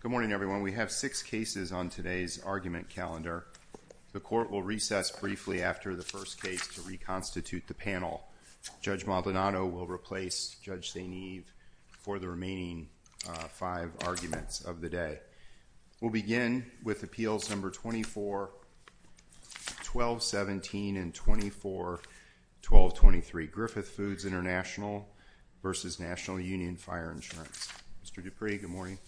Good morning everyone. We have six cases on today's argument calendar. The court will recess briefly after the first case to reconstitute the panel. Judge Maldonado will replace Judge St. Eve for the remaining five arguments of the day. We'll begin with Appeals Number 24, 1217 and 24, 1223 Griffith Foods International v. National Union Fire Insurance. Mr. Dupree, good morning.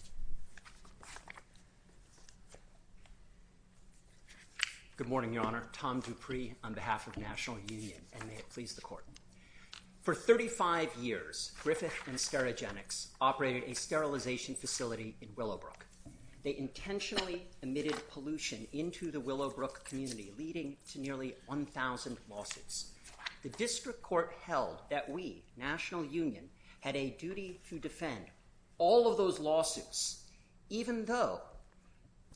Good morning, Your Honor. Tom Dupree on behalf of National Union, and may it please the court. For 35 years, Griffith and Sterigenics operated a sterilization facility in Willowbrook. They intentionally emitted pollution into the Willowbrook community, leading to nearly 1,000 lawsuits. The district court held that we, National Union, had a duty to defend all of those lawsuits, even though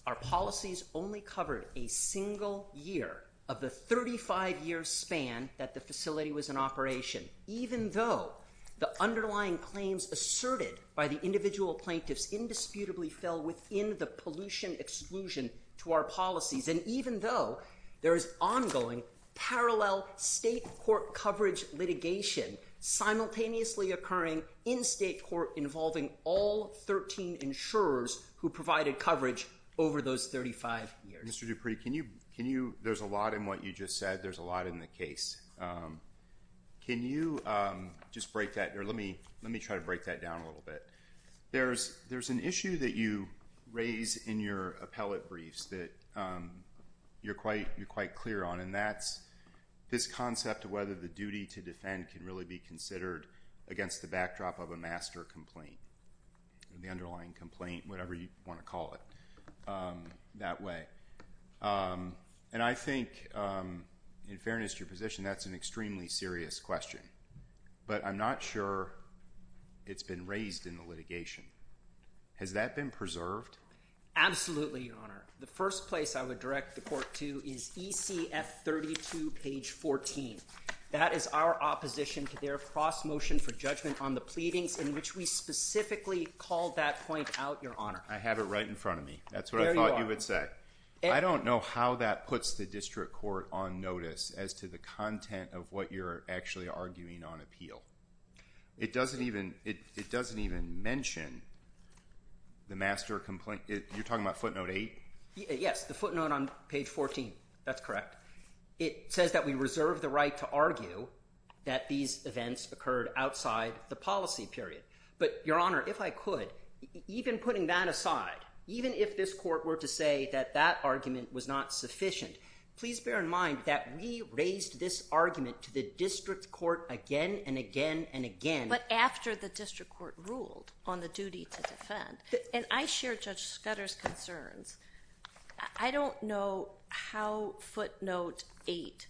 our policies only covered a single year of the 35-year span that the facility was in operation, even though the underlying claims asserted by the individual plaintiffs indisputably fell within the pollution exclusion to our policies, and even though there is ongoing parallel state court coverage litigation simultaneously occurring in state court involving all 13 insurers who provided coverage over those 35 years. Mr. Dupree, can you, can you, there's a lot in what you just said, there's a lot in the case. Can you just break that, or let me, let me try to break that down a little bit. There's, there's an issue that you raise in your appellate briefs that you're quite, you're quite clear on, and that's this concept of whether the duty to defend can really be considered against the backdrop of a master complaint, the underlying complaint, whatever you want to call it, that way. And I think, in fairness to your position, that's an extremely serious question, but I'm not sure it's been raised in the case. Has that been preserved? Absolutely, Your Honor. The first place I would direct the court to is ECF 32, page 14. That is our opposition to their cross-motion for judgment on the pleadings in which we specifically called that point out, Your Honor. I have it right in front of me. That's what I thought you would say. I don't know how that puts the district court on notice as to the content of what you're actually arguing on appeal. It doesn't even, it doesn't even mention the master complaint. You're talking about footnote 8? Yes, the footnote on page 14. That's correct. It says that we reserve the right to argue that these events occurred outside the policy period. But, Your Honor, if I could, even putting that aside, even if this court were to say that that argument was not sufficient, please bear in mind that we raised this argument to the district court again and again and again. But after the district court ruled on the duty to defend, and I share Judge Scudder's concerns, I don't know how footnote 8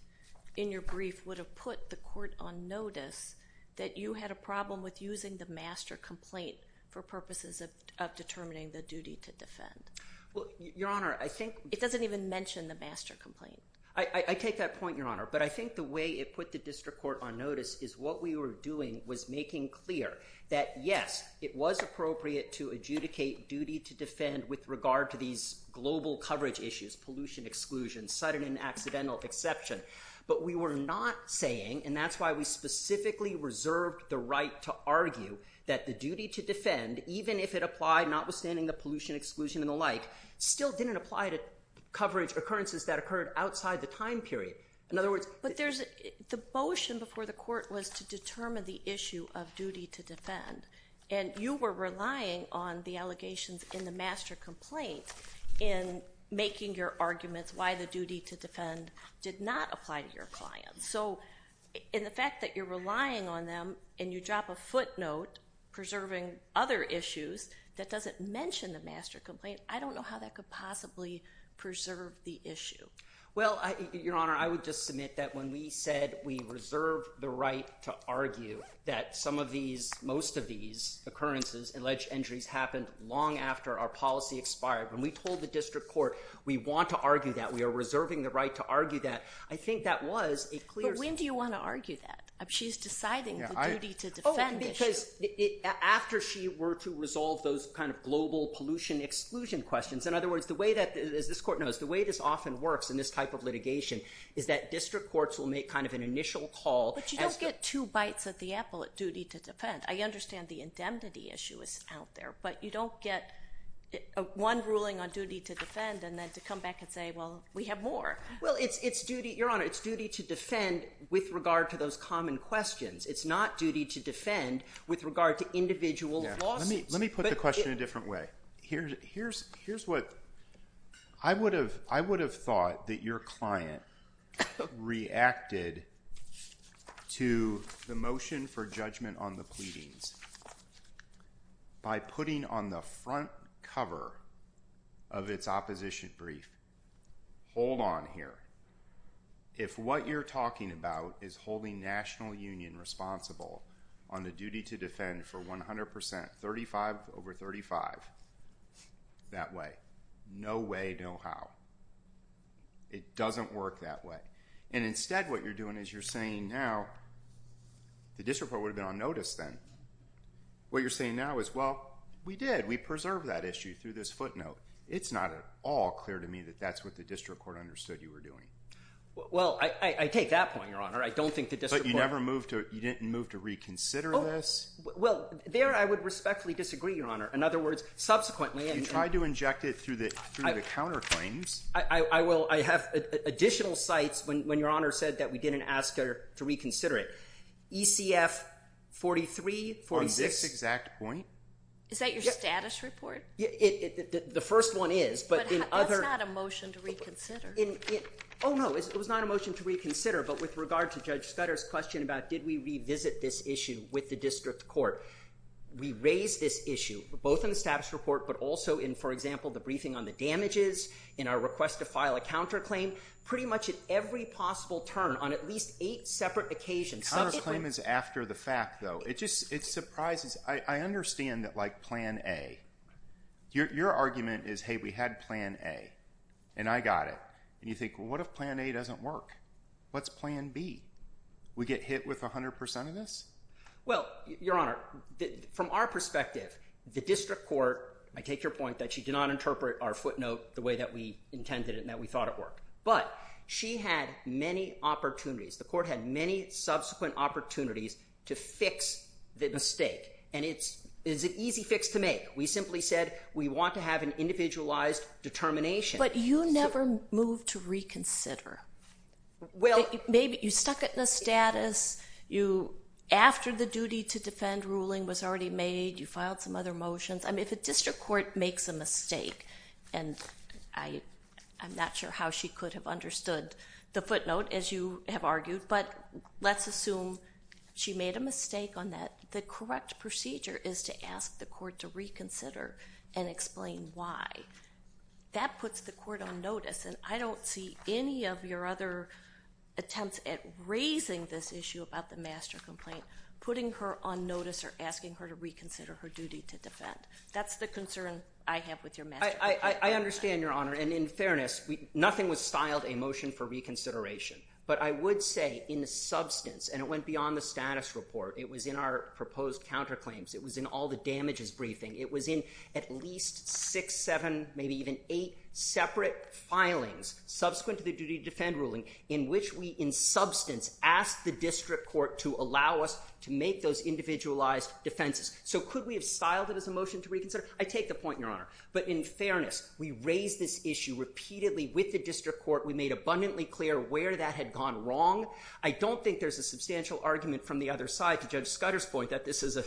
in your brief would have put the court on notice that you had a problem with using the master complaint for purposes of determining the duty to defend. Well, Your Honor, I think... It doesn't even mention the master complaint. I take that point, Your Honor, but I think the way it put the district court on notice is what we were doing was making clear that, yes, it was appropriate to adjudicate duty to defend with regard to these global coverage issues, pollution exclusion, sudden and accidental exception. But we were not saying, and that's why we specifically reserved the right to argue, that the duty to defend, even if it applied not outstanding the pollution exclusion and the like, still didn't apply to coverage occurrences that occurred outside the time period. In other words... But there's... The motion before the court was to determine the issue of duty to defend, and you were relying on the allegations in the master complaint in making your arguments why the duty to defend did not apply to your clients. So in the fact that you're relying on them and you drop a footnote preserving other issues, that doesn't mention the master complaint, I don't know how that could possibly preserve the issue. Well, Your Honor, I would just submit that when we said we reserved the right to argue that some of these, most of these occurrences, alleged injuries, happened long after our policy expired. When we told the district court we want to argue that, we are reserving the right to argue that, I think that was a clear... But when do you want to argue that? She's deciding the duty to defend. Because after she were to resolve those kind of global pollution exclusion questions, in other words, the way that, as this court knows, the way this often works in this type of litigation is that district courts will make kind of an initial call... But you don't get two bites at the apple at duty to defend. I understand the indemnity issue is out there, but you don't get one ruling on duty to defend and then to come back and say, well, we have more. Well, it's duty... Your Honor, it's duty to defend with regard to those common questions. It's not duty to defend with regard to individual lawsuits. Let me, let me put the question a different way. Here's, here's, here's what I would have, I would have thought that your client reacted to the motion for judgment on the pleadings by putting on the front cover of its opposition brief, hold on here, if what you're talking about is holding National Union responsible on the duty to defend for 100 percent, 35 over 35, that way. No way, no how. It doesn't work that way. And instead what you're doing is you're saying now, the district court would have been on notice then. What you're saying now is, well, we did. We preserved that issue through this footnote. It's not at all clear to me that that's what the district court understood you were doing. Well, I, I take that point, Your Honor. I don't think the district court... But you never moved to, you didn't move to reconsider this? Well, there I would respectfully disagree, Your Honor. In other words, subsequently... You tried to inject it through the, through the counter claims. I, I will, I have additional sites when, when Your Honor said that we didn't ask her to reconsider it. ECF 43, 46... On this exact point? Is that your status report? The first one is, but in other... That's not a motion to reconsider. Oh no, it was not a motion to reconsider, but with regard to Judge Scudder's question about, did we revisit this issue with the district court? We raised this issue, both in the status report, but also in, for example, the briefing on the damages, in our request to file a counterclaim, pretty much at every possible turn on at least eight separate occasions. The counterclaim is after the fact, though. It just, it surprises. I Your, your argument is, hey, we had plan A, and I got it, and you think, well, what if plan A doesn't work? What's plan B? We get hit with a hundred percent of this? Well, Your Honor, from our perspective, the district court, I take your point that she did not interpret our footnote the way that we intended it and that we thought it worked, but she had many opportunities. The court had many subsequent opportunities to fix the mistake, and it's, it's an easy fix to make. We simply said, we want to have an individualized determination. But you never moved to reconsider. Well, maybe you stuck it in the status, you, after the duty to defend ruling was already made, you filed some other motions. I mean, if a district court makes a mistake, and I, I'm not sure how she could have understood the footnote, as you have argued, but let's assume she made a motion to reconsider and explain why. That puts the court on notice, and I don't see any of your other attempts at raising this issue about the master complaint, putting her on notice or asking her to reconsider her duty to defend. That's the concern I have with your master complaint. I, I, I understand, Your Honor, and in fairness, we, nothing was styled a motion for reconsideration, but I would say in the substance, and it went beyond the status report, it was in our proposed counterclaims, it was in all the damages briefing, it was in at least six, seven, maybe even eight separate filings subsequent to the duty to defend ruling, in which we, in substance, asked the district court to allow us to make those individualized defenses. So could we have styled it as a motion to reconsider? I take the point, Your Honor, but in fairness, we raised this issue repeatedly with the district court. We made abundantly clear where that had gone wrong. I don't think there's a substantial argument from the other side to Judge Scudder's point that this is a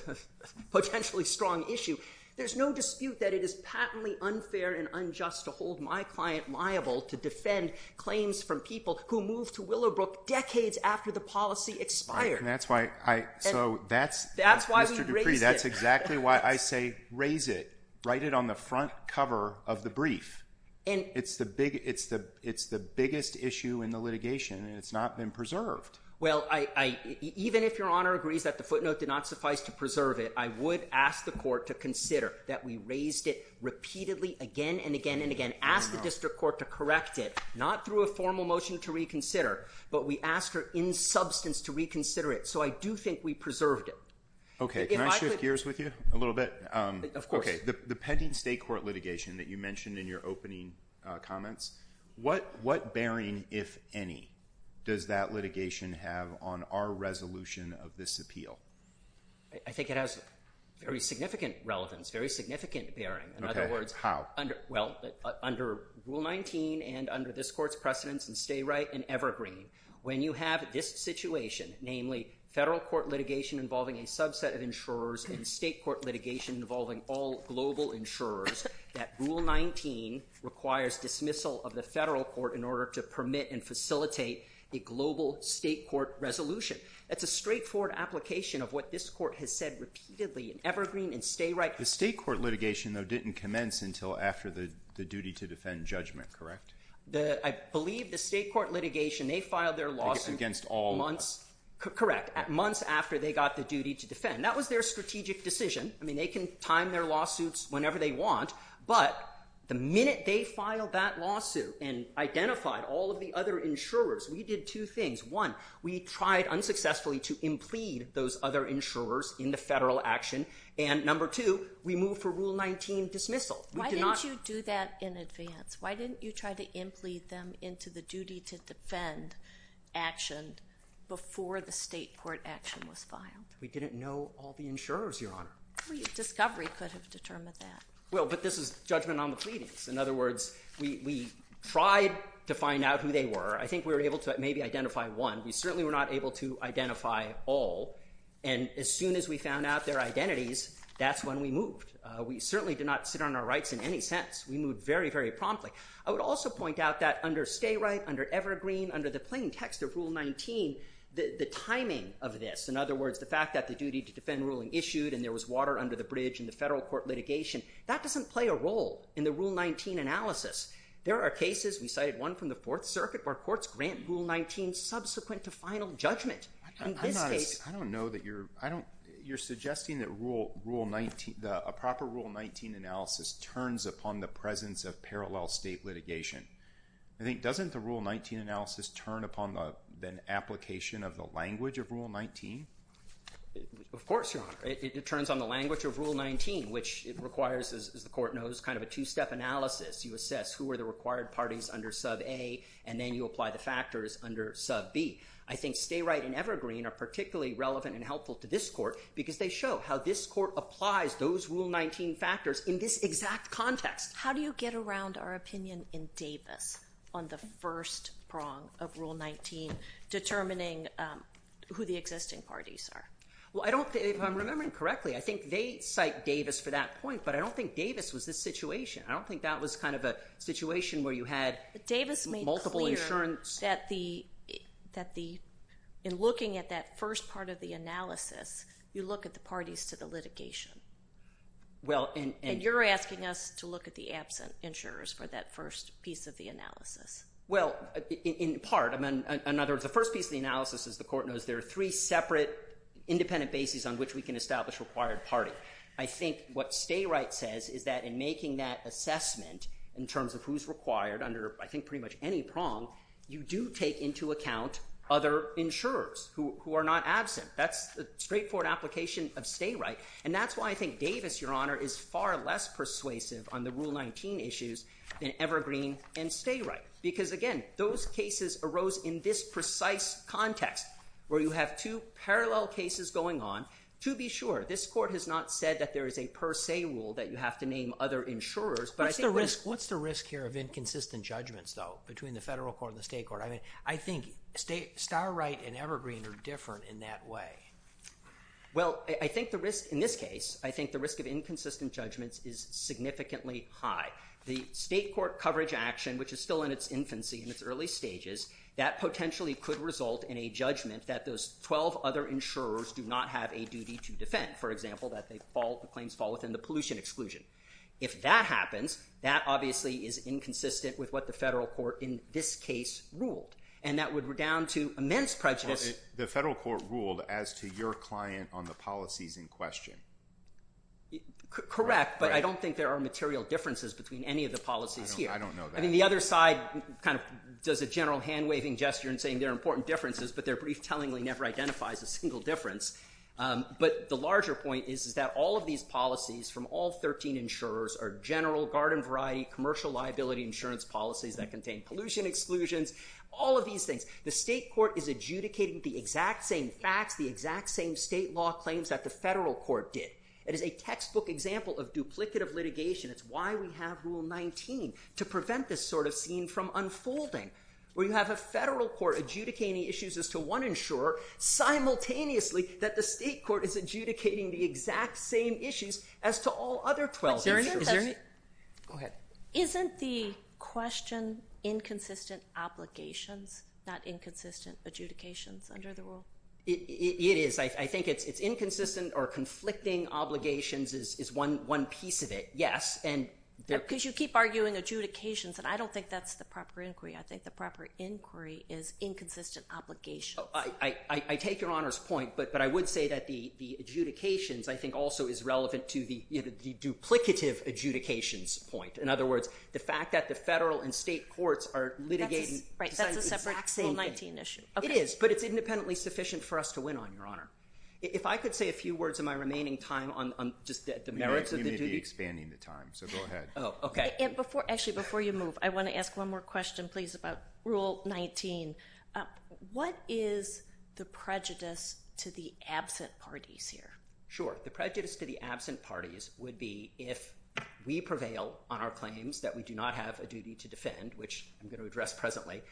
potentially strong issue. There's no dispute that it is patently unfair and unjust to hold my client liable to defend claims from people who moved to Willowbrook decades after the policy expired. That's why I, so that's, that's why we raised it. That's exactly why I say raise it, write it on the front cover of the brief. And it's the big, it's the, it's the biggest issue in the litigation, and it's not been preserved. Well, I, I, even if Your Honor agrees that the footnote did not suffice to preserve it, I would ask the court to consider that we raised it repeatedly again and again and again, asked the district court to correct it, not through a formal motion to reconsider, but we asked her in substance to reconsider it. So I do think we preserved it. Okay, can I shift gears with you a little bit? Of course. Okay, the pending state court litigation that you mentioned in your opening comments, what, what bearing, if any, does that litigation have on our resolution of this appeal? I think it has very significant relevance, very significant bearing. In other words, how? Under, well, under Rule 19 and under this court's precedents in Stay Right and Evergreen, when you have this situation, namely federal court litigation involving a subset of insurers and state court litigation involving all global insurers, that Rule 19 requires dismissal of the federal court in order to permit and facilitate a global state court resolution. That's a straightforward application of what this court has said repeatedly in Evergreen and Stay Right. The state court litigation, though, didn't commence until after the, the duty to defend judgment, correct? The, I believe the state court litigation, they filed their lawsuit against all months, correct, at months after they got the duty to defend. That was their strategic decision. I mean, they can time their lawsuits whenever they want, but the minute they filed that lawsuit and identified all of the other insurers, we did two things. One, we tried unsuccessfully to implead those other insurers in the federal action, and number two, we moved for Rule 19 dismissal. Why did you do that in advance? Why didn't you try to implead them into the duty to defend action before the state court action was filed? We didn't know all the insurers, Your Honor. Discovery could have determined that. Well, but this is judgment on the pleadings. In other words, we, we tried to find out who they were. I think we were able to maybe identify one. We certainly were not able to identify all, and as soon as we found out their identities, that's when we moved. We certainly did not sit on our rights in any sense. We moved very, very promptly. I would also point out that under Stay Right, under Evergreen, under the plain text of Rule 19, the, the timing of this, in other words, the fact that the duty to defend ruling issued and there was water under the bridge in the federal court litigation, that doesn't play a role in the Rule 19 analysis. There are cases, we cited one from the Fourth Circuit, where courts grant Rule 19 subsequent to final judgment. I don't know that you're, I don't, you're suggesting that Rule, Rule 19, the, a proper Rule 19 analysis turns upon the presence of parallel state litigation. I think, doesn't the Rule 19 analysis turn upon the, the application of the language of Rule 19? Of course, Your Honor. It turns on the language of Rule 19, which it requires, as the court knows, kind of a two-step analysis. You assess who are the required parties under Sub A, and then you apply the factors under Sub B. I think Stay Right and Evergreen are particularly relevant and helpful to this court because they show how this court applies those Rule 19 factors in this exact context. How do you get around our opinion in Davis on the first prong of Rule 19 determining who the existing parties are? Well, I don't, if I'm remembering correctly, I think they cite Davis for that point, but I don't think Davis was this situation. I don't think that was kind of a situation where you had multiple insurance. Davis made it clear that the, that the, in looking at that first part of the analysis, you look at the parties to the litigation. Well, and, and you're asking us to look at the absent insurers for that first piece of the analysis. Well, in part, I mean, in other words, the first piece of the analysis, as the court knows, there are three separate independent bases on which we can establish required party. I think what Stay Right says is that in making that assessment in terms of who's required under, I think, pretty much any prong, you do take into account other insurers who are not absent. That's the straightforward application of Stay Right. And that's why I think Davis, Your Honor, is far less persuasive on the Rule 19 issues than Evergreen and Stay Right. Because again, those cases arose in this precise context where you have two parallel cases going on. To be sure, this court has not said that there is a per se rule that you have to name other insurers, but I think... What's the risk, what's the risk here of inconsistent judgments, though, between the federal court and the state court? I mean, I think Stay, Star Right and Evergreen are different in that way. Well, I think the risk in this case, I think the risk of inconsistent judgments is significantly high. The state court coverage action, which is still in its infancy, in its early stages, that potentially could result in a judgment that those 12 other insurers do not have a duty to defend. For example, that they fall, the claims fall within the pollution exclusion. If that happens, that obviously is inconsistent with what the federal court in this case ruled, and that would redound to immense prejudice. The federal court ruled as to your client on the policies in question. Correct, but I don't think there are material differences between any of the policies here. I mean, the other side kind of does a general hand-waving gesture and saying there are important differences, but their brief tellingly never identifies a single difference. But the larger point is that all of these policies from all 13 insurers are general, garden variety, commercial liability insurance policies that contain pollution exclusions, all of these things. The state court is adjudicating the exact same facts, the exact same state law claims that the federal court did. It is a textbook example of duplicative litigation. It's why we have Rule 19, to prevent this sort of scene from unfolding, where you have a federal court adjudicating issues as to one insurer, simultaneously that the state court is adjudicating the exact same issues as to all other 12 insurers. Isn't the question inconsistent obligations, not inconsistent adjudications under the rule? It is. I think it's inconsistent or conflicting obligations is one piece of it, yes. Because you keep arguing adjudications, and I don't think that's the proper inquiry. I think the proper inquiry is inconsistent obligations. I take your Honor's point, but I would say that the adjudications, I think also is relevant to the duplicative adjudications point. In other words, the fact that the federal and state courts are litigating the exact same thing. That's a separate Rule 19 issue. It is, but it's independently sufficient for us to win on, Your Honor. If I could say a few words in my remaining time on just the merits of the duty. You may be expanding the time, so go ahead. Oh, okay. Actually, before you move, I want to ask one more question, please, about Rule 19. What is the prejudice to the absent parties here? Sure. The prejudice to the absent parties would be if we prevail on our claims that we do not have a duty to defend, which I'm going to address presently,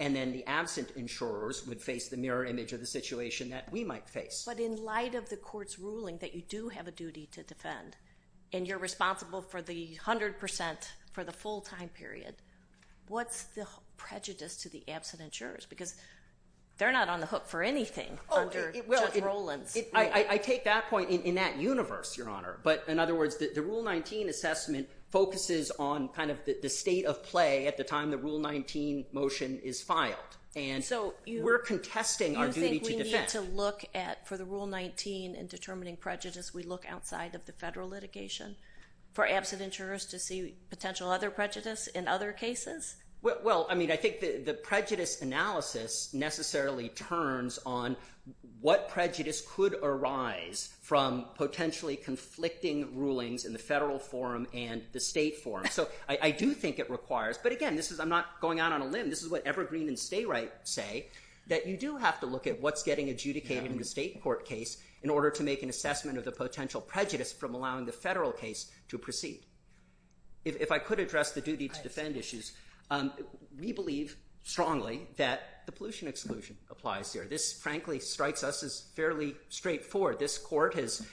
and then the absent insurers would face the mirror image of the situation that we might face. But in light of the court's ruling that you do have a duty to defend, and you're responsible for the hundred percent for the full time period, what's the prejudice to the absent insurers? Because they're not on the hook for anything under Judge Roland's ruling. I take that point in that universe, Your Honor, but in other words, the Rule 19 assessment focuses on kind of the state of play at the time the Rule 19 motion is filed, and so we're contesting our duty to defend. You think we need to look at, for the Rule 19 in determining prejudice, we look outside of the federal litigation for absent insurers to see potential other prejudice in other cases? Well, I mean, I think the prejudice analysis necessarily turns on what prejudice could arise from potentially conflicting rulings in the federal forum and the state forum. So I do think it requires, but again, this is, I'm not going out on a limb, this is what Evergreen and Stayright say, that you do have to look at what's getting adjudicated in the state court case in order to make an assessment of the potential prejudice from allowing the federal case to proceed. If I could address the duty to defend issues, we believe strongly that the pollution exclusion applies here. This, frankly, strikes us as fairly straightforward. This court has,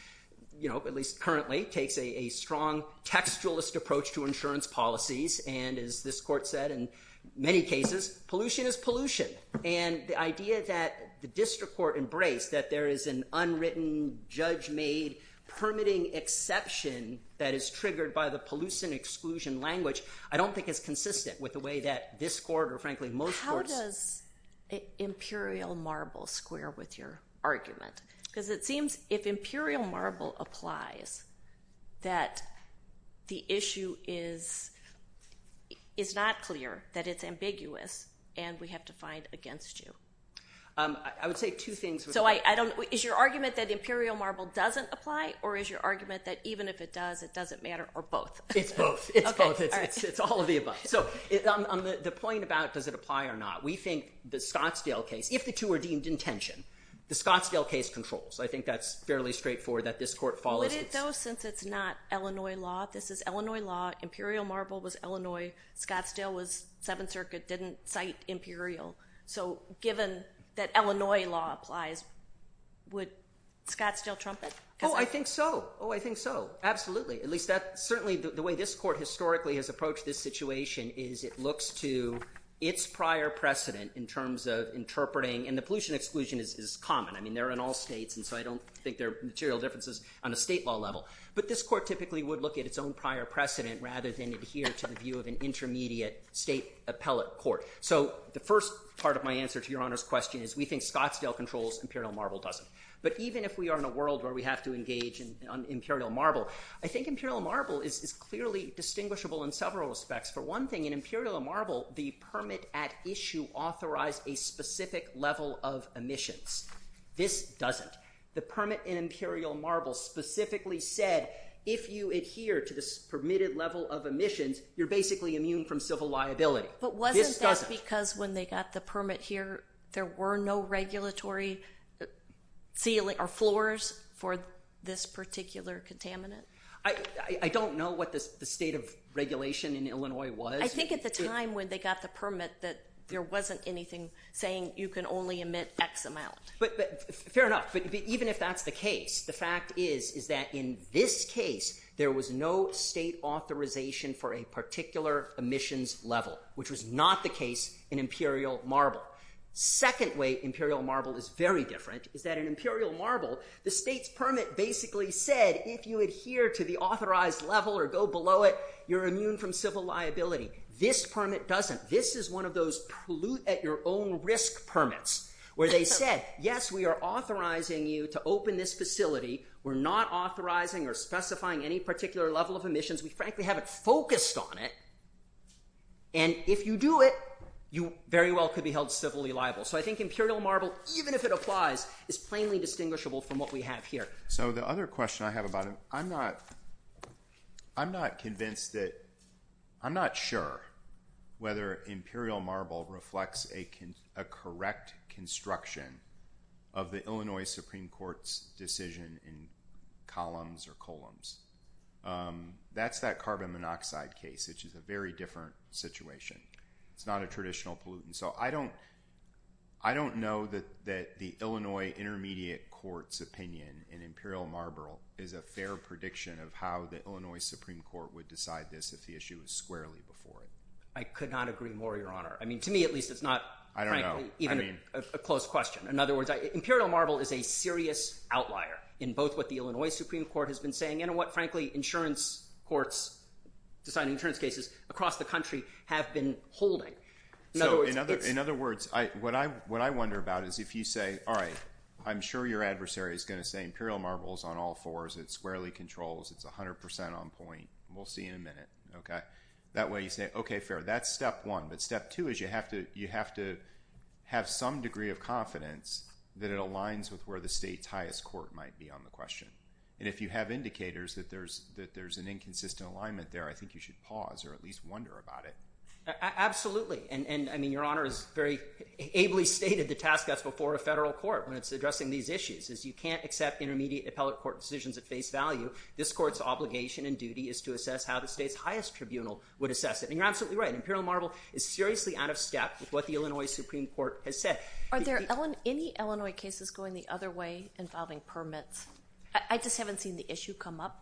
you know, at least currently, takes a strong textualist approach to insurance policies, and as this court said in many cases, pollution is pollution. And the idea that the district court embraced, that there is an unwritten, judge-made permitting exception that is triggered by the pollution exclusion language, I don't think is consistent with the way that this court, or frankly, most courts... How does Imperial Marble square with your argument? Because it seems if Imperial Marble applies, that the issue is not clear, that it's ambiguous, and we have to find against you. I would say two things. So I don't, is your argument that Imperial Marble doesn't apply, or is your argument that even if it does, it doesn't matter, or both? It's both. It's all of the above. So the point about does it apply or not, we think the Scottsdale case, if the two are deemed in tension, the Scottsdale case controls. I think that's fairly straightforward, that this court follows... Would it though, since it's not Illinois law, this is Illinois law, Imperial Marble was Illinois, Scottsdale was Seventh Circuit, didn't cite Imperial, so given that Illinois law applies, would Scottsdale trump it? Oh, I think so. Oh, I certainly, the way this court historically has approached this situation, is it looks to its prior precedent in terms of interpreting, and the pollution exclusion is common. I mean, they're in all states, and so I don't think there are material differences on a state law level. But this court typically would look at its own prior precedent, rather than adhere to the view of an intermediate state appellate court. So the first part of my answer to Your Honor's question is, we think Scottsdale controls, Imperial Marble doesn't. But even if we are in a world where we have to engage in Imperial Marble, I think Imperial Marble is clearly distinguishable in several respects. For one thing, in Imperial Marble, the permit at issue authorized a specific level of emissions. This doesn't. The permit in Imperial Marble specifically said, if you adhere to this permitted level of emissions, you're basically immune from civil liability. But wasn't that because when they got the permit here, there were no regulatory ceiling or floors for this particular contaminant? I don't know what the state of regulation in Illinois was. I think at the time when they got the permit, that there wasn't anything saying you can only emit X amount. But fair enough. But even if that's the case, the fact is, is that in this case, there was no state authorization for a particular emissions level, which was not the case in Imperial Marble. Second way Imperial Marble is very different is that in Imperial Marble, the state's permit basically said, if you adhere to the authorized level or go below it, you're immune from civil liability. This permit doesn't. This is one of those pollute at your own risk permits, where they said, yes, we are authorizing you to open this facility. We're not authorizing or specifying any particular level of emissions. We frankly haven't focused on it. And if you do it, you very well could be held civilly liable. So I think Imperial Marble, even if it applies, is plainly distinguishable from what we have here. So the other question I have about it, I'm not convinced that, I'm not sure whether Imperial Marble reflects a correct construction of the Illinois Supreme Court's decision in columns or columns. That's that carbon monoxide case, which is a very different situation. It's not a traditional pollutant. So I don't, I don't know that that the Illinois Intermediate Court's opinion in Imperial Marble is a fair prediction of how the Illinois Supreme Court would decide this if the issue was squarely before it. I could not agree more, Your Honor. I mean, to me, at least, it's not even a close question. In other words, Imperial Marble is a serious outlier in both what the Illinois Supreme Court has been saying and what, frankly, insurance courts, deciding insurance cases across the country, have been holding. So in other words, what I wonder about is if you say, all right, I'm sure your adversary is going to say Imperial Marble's on all fours. It's squarely controls. It's a hundred percent on point. We'll see in a minute, okay? That way you say, okay, fair. That's step one. But step two is you have to, you have to have some degree of confidence that it aligns with where the state's highest court might be on the question. And if you have indicators that there's, that there's an inconsistent alignment there, I think you should pause or at least wonder about it. Absolutely. And I mean, Your Honor has very ably stated the task that's before a federal court when it's addressing these issues, is you can't accept intermediate appellate court decisions at face value. This court's obligation and duty is to assess how the state's highest tribunal would assess it. And you're absolutely right. Imperial Marble is seriously out of step with what the Illinois Supreme Court has said. Are there any Illinois cases going the other way involving permits? I just haven't seen the issue come up.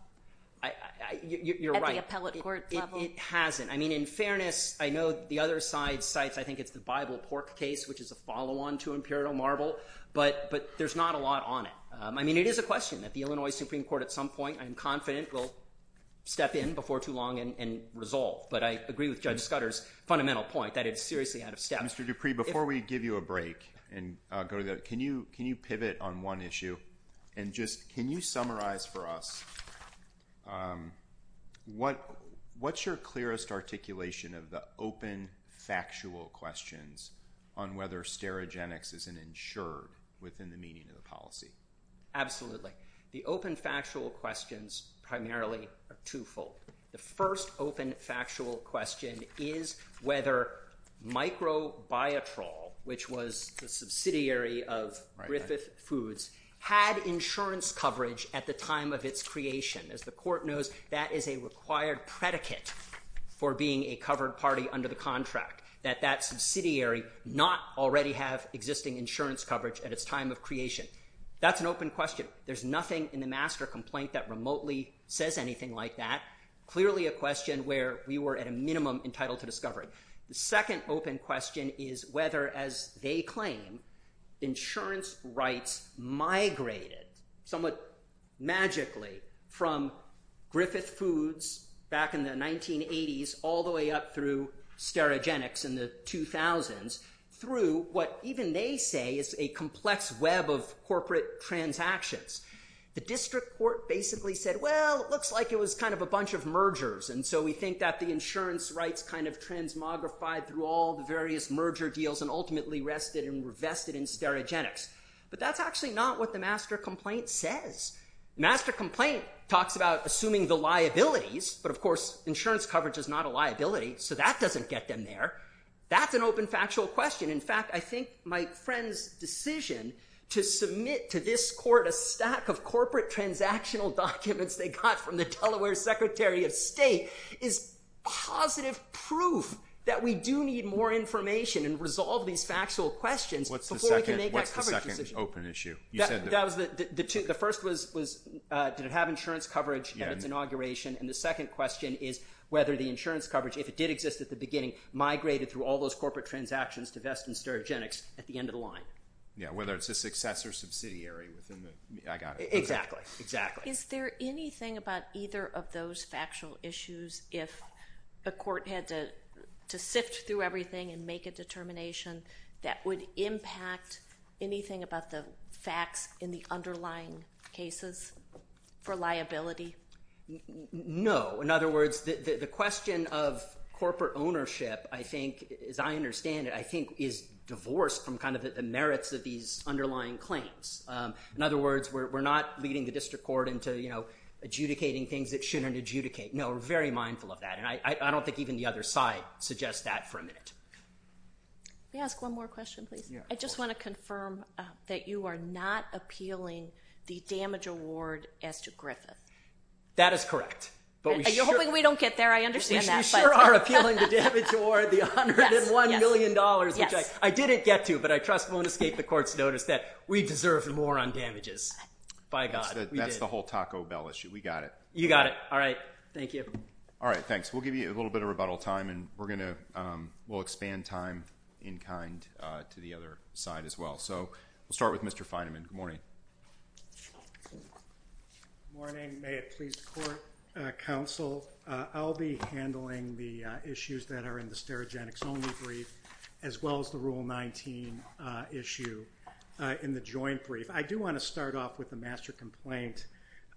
You're right. At the appellate court level? It hasn't. I mean, in fairness, I know the other side cites, I think it's the Bible Pork case, which is a follow-on to Imperial Marble, but, but there's not a lot on it. I mean, it is a question that the Illinois Supreme Court at some point, I'm confident, will step in before too long and resolve. But I agree with Judge Scudder's fundamental point that it's seriously out of step. Mr. Dupree, before we give you a break and go to the, can you, can you pivot on one issue and just, can you summarize for us what, what's your clearest articulation of the open factual questions on whether stereogenics is an insurer within the meaning of the policy? Absolutely. The first open factual question is whether Microbiotrol, which was the subsidiary of Griffith Foods, had insurance coverage at the time of its creation. As the court knows, that is a required predicate for being a covered party under the contract, that that subsidiary not already have existing insurance coverage at its time of creation. That's an open question. There's nothing in the master complaint that remotely says anything like that. Clearly a question where we were at a minimum entitled to discovery. The second open question is whether, as they claim, insurance rights migrated somewhat magically from Griffith Foods back in the 1980s all the way up through stereogenics in the 2000s through what even they say is a complex web of corporate transactions. The district court basically said, well it looks like it was kind of a bunch of mergers and so we think that the insurance rights kind of transmogrified through all the various merger deals and ultimately rested and were vested in stereogenics. But that's actually not what the master complaint says. Master complaint talks about assuming the liabilities, but of course insurance coverage is not a liability, so that doesn't get them there. That's an open factual question. In fact, I think my friend's decision to submit to this court a stack of corporate transactional documents they got from the Delaware Secretary of State is positive proof that we do need more information and resolve these factual questions before we can make that coverage decision. What's the second open issue? The first was did it have insurance coverage at its inauguration and the second question is whether the insurance coverage, if it did exist at the beginning, migrated through all those corporate transactions to vest in stereogenics at the end of the line. Yeah, whether it's a successor subsidiary Exactly. Is there anything about either of those factual issues if the court had to sift through everything and make a determination that would impact anything about the facts in the underlying cases for liability? No. In other words, the question of corporate ownership, I think, as I understand it, I don't think even the other side suggests that for a minute. Can I ask one more question, please? I just want to confirm that you are not appealing the damage award as to Griffith. That is correct. Are you hoping we don't get there? I understand that. We sure are appealing the damage award, the $101 million, which I didn't get to, but I won't escape the court's notice that we deserve more on damages. By God. That's the whole Taco Bell issue. We got it. You got it. All right. Thank you. All right. Thanks. We'll give you a little bit of rebuttal time and we're gonna, we'll expand time in kind to the other side as well. So we'll start with Mr. Feinemann. Good morning. Good morning. May it please the court, counsel. I'll be handling the issues that are in the heterogenics only brief, as well as the rule 19 issue in the joint brief. I do want to start off with the master complaint,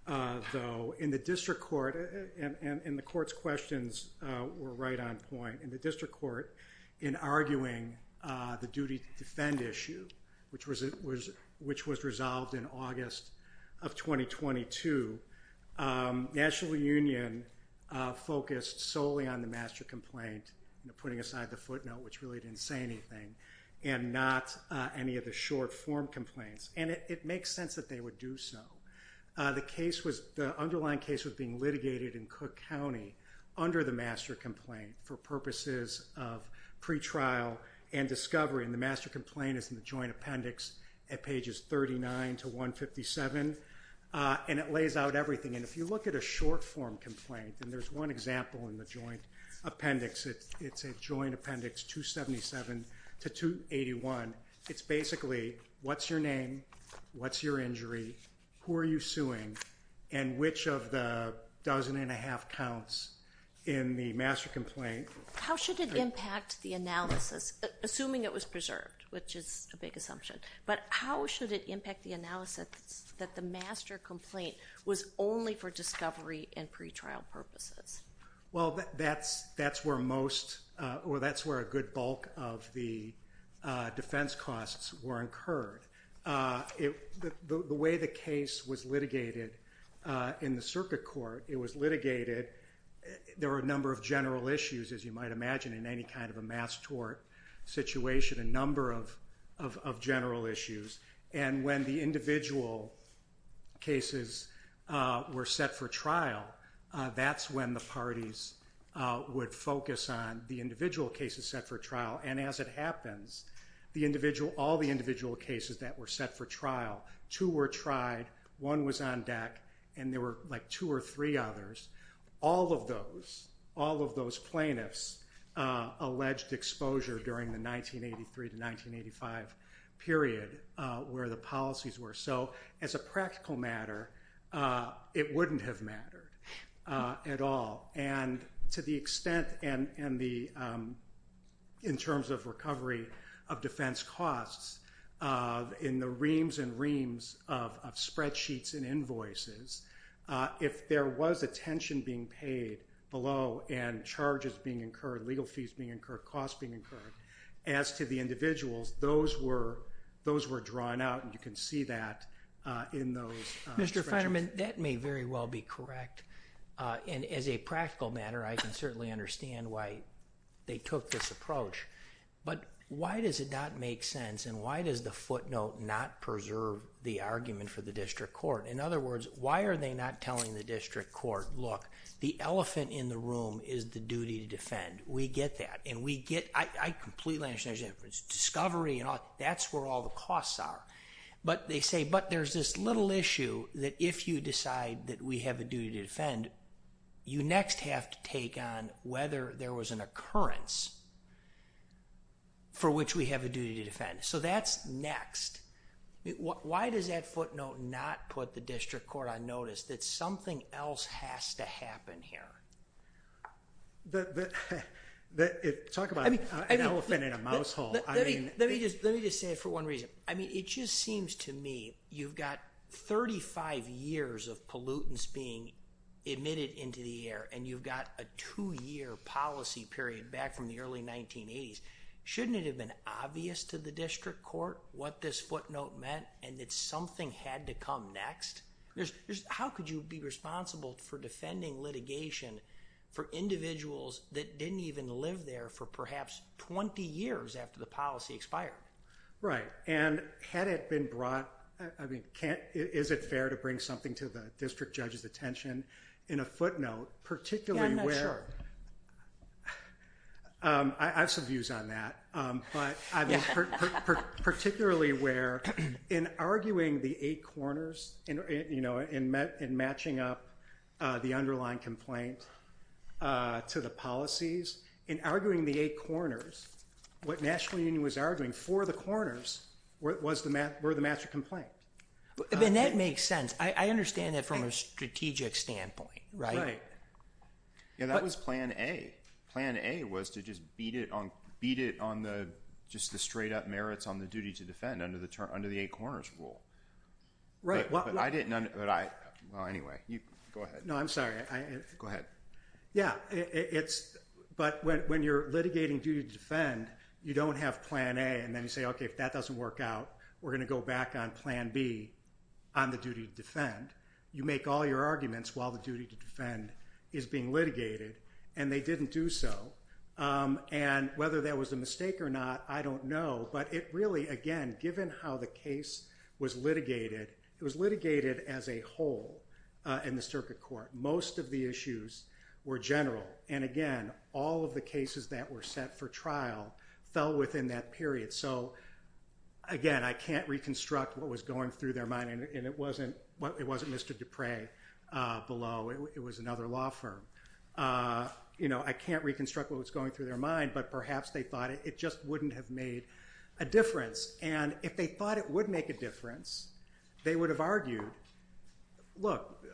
though, in the district court and the court's questions were right on point. In the district court, in arguing the duty to defend issue, which was it was, which was resolved in August of 2022, National Union focused solely on the master complaint, you know, putting aside the footnote, which really didn't say anything, and not any of the short form complaints. And it makes sense that they would do so. The case was, the underlying case was being litigated in Cook County under the master complaint for purposes of pretrial and discovery. And the master complaint is in the joint appendix at pages 39 to 157, and it lays out everything. And if you look at a short form complaint, and there's one example in the joint appendix, it's a joint appendix 277 to 281. It's basically what's your name, what's your injury, who are you suing, and which of the dozen and a half counts in the master complaint. How should it impact the analysis, assuming it was preserved, which is a big assumption, but how should it impact the analysis that the master complaint was only for discovery and pretrial purposes? Well, that's, that's where most, or that's where a good bulk of the defense costs were incurred. The way the case was litigated in the circuit court, it was litigated, there were a number of general issues, as you might imagine, in any kind of a mass tort situation, a number of general issues. And when the individual cases were set for trial, that's when the parties would focus on the individual cases set for trial. And as it happens, the individual, all the individual cases that were set for trial, two were tried, one was on deck, and there were like two or three others. All of those, all of those plaintiffs alleged exposure during the 1983 to 1985 period where the policies were. So as a practical matter, it wouldn't have mattered at all. And to the extent, and the, in terms of recovery of defense costs, in the reams and reams of spreadsheets and invoices, if there was attention being paid below and charges being incurred, legal fees being incurred, costs being incurred, as to the individuals, those were, those were drawn out and you can see that in those. Mr. Fetterman, that may very well be correct. And as a practical matter, I can certainly understand why they took this approach. But why does it not make sense and why does the footnote not preserve the argument for the district court? In other words, why are they not telling the district court, look, the elephant in the room is the duty to defend. We get that. And we get, I completely understand, it's discovery and all, that's where all the costs are. But they say, but there's this little issue that if you decide that we have a duty to defend, you next have to take on whether there was an occurrence for which we have a duty to defend. So that's next. Why does that footnote not put the district court on notice that something else has to happen here? But, but, talk about an elephant in a mouse hole. I mean, let me just, let me just say it for one reason. I mean, it just seems to me you've got 35 years of pollutants being emitted into the air and you've got a two-year policy period back from the early 1980s. Shouldn't it have been obvious to the district court what this footnote meant and that something had to come next? How could you be responsible for defending litigation for individuals that didn't even live there for perhaps 20 years after the policy expired? Right, and had it been brought, I mean, is it fair to bring something to the district judge's attention in a footnote, particularly where, I have some views on that, but particularly where in arguing the eight corners and, you know, in matching up the underlying complaint to the policies, in arguing the eight corners, what National Union was arguing for the corners were the match of complaint. And that makes sense. I understand that from a strategic standpoint, right? Yeah, that was plan A. Plan A was to just beat it on, beat it on the, just the straight-up merits on the duty to defend under the turn, under the eight corners rule. Right. Well, I didn't, but I, well, anyway, you, go ahead. No, I'm sorry. Go ahead. Yeah, it's, but when you're litigating duty to defend, you don't have plan A and then you say, okay, if that doesn't work out, we're gonna go back on plan B on the duty to defend. You make all your arguments while the duty to defend is being litigated and they didn't do so. And whether that was a mistake or not, I don't know, but it really, again, given how the case was litigated, it was litigated as a whole in the circuit court. Most of the issues were general and, again, all of the cases that were set for trial fell within that period. So, again, I can't reconstruct what was going through their mind and it wasn't, it wasn't Mr. Dupre below. It was another law firm. You know, I can't reconstruct what was going through their mind, but perhaps they thought it just wouldn't have made a difference. And if they thought it would make a difference, they would have argued, look,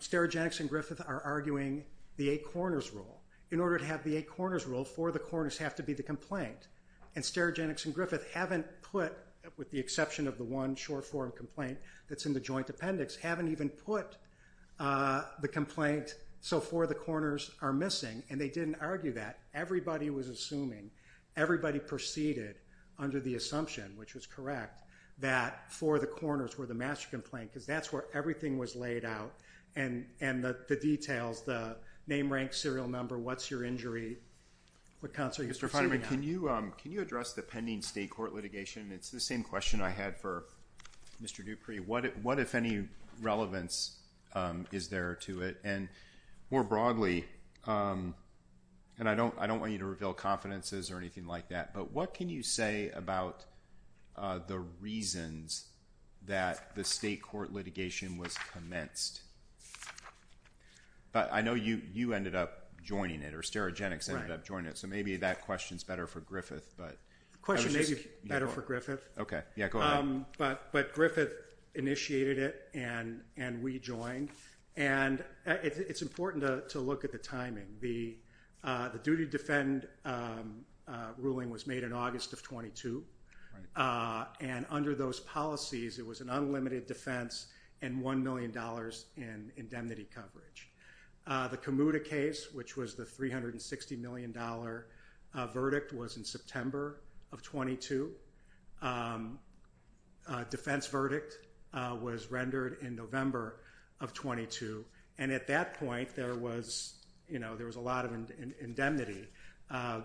Sterigenics and Griffith are arguing the eight corners rule. In order to have the eight corners rule, four of the corners have to be the complaint. And Sterigenics and Griffith haven't put, with the exception of the one short-form complaint that's in the joint appendix, haven't even put the complaint, so four of the corners are missing. And they didn't argue that. Everybody was assuming, everybody proceeded under the assumption, which was correct, that four of the corners were the master complaint because that's where everything was laid out and the details, the name, rank, serial number, what's your injury, what counts are you suing on. Mr. Feiderman, can you address the pending state court litigation? It's the same question I had for Mr. Dupree. What if any relevance is there to it? And more broadly, and I don't want you to reveal confidences or anything like that, but what can you say about the reasons that the state court litigation was commenced? But I know you ended up joining it, or Sterigenics ended up joining it, so maybe that question's better for Griffith. The question may be better for Griffith, but Griffith initiated it and we joined, and it's important to look at the timing. The duty to defend ruling was made in August of 22, and under those policies it was an unlimited defense and $1 million in indemnity coverage. The Komuda case, which was the $360 million verdict, was in September of 22. Defense verdict was rendered in November of 22, and at that point there was, you know, there was a lot of indemnity.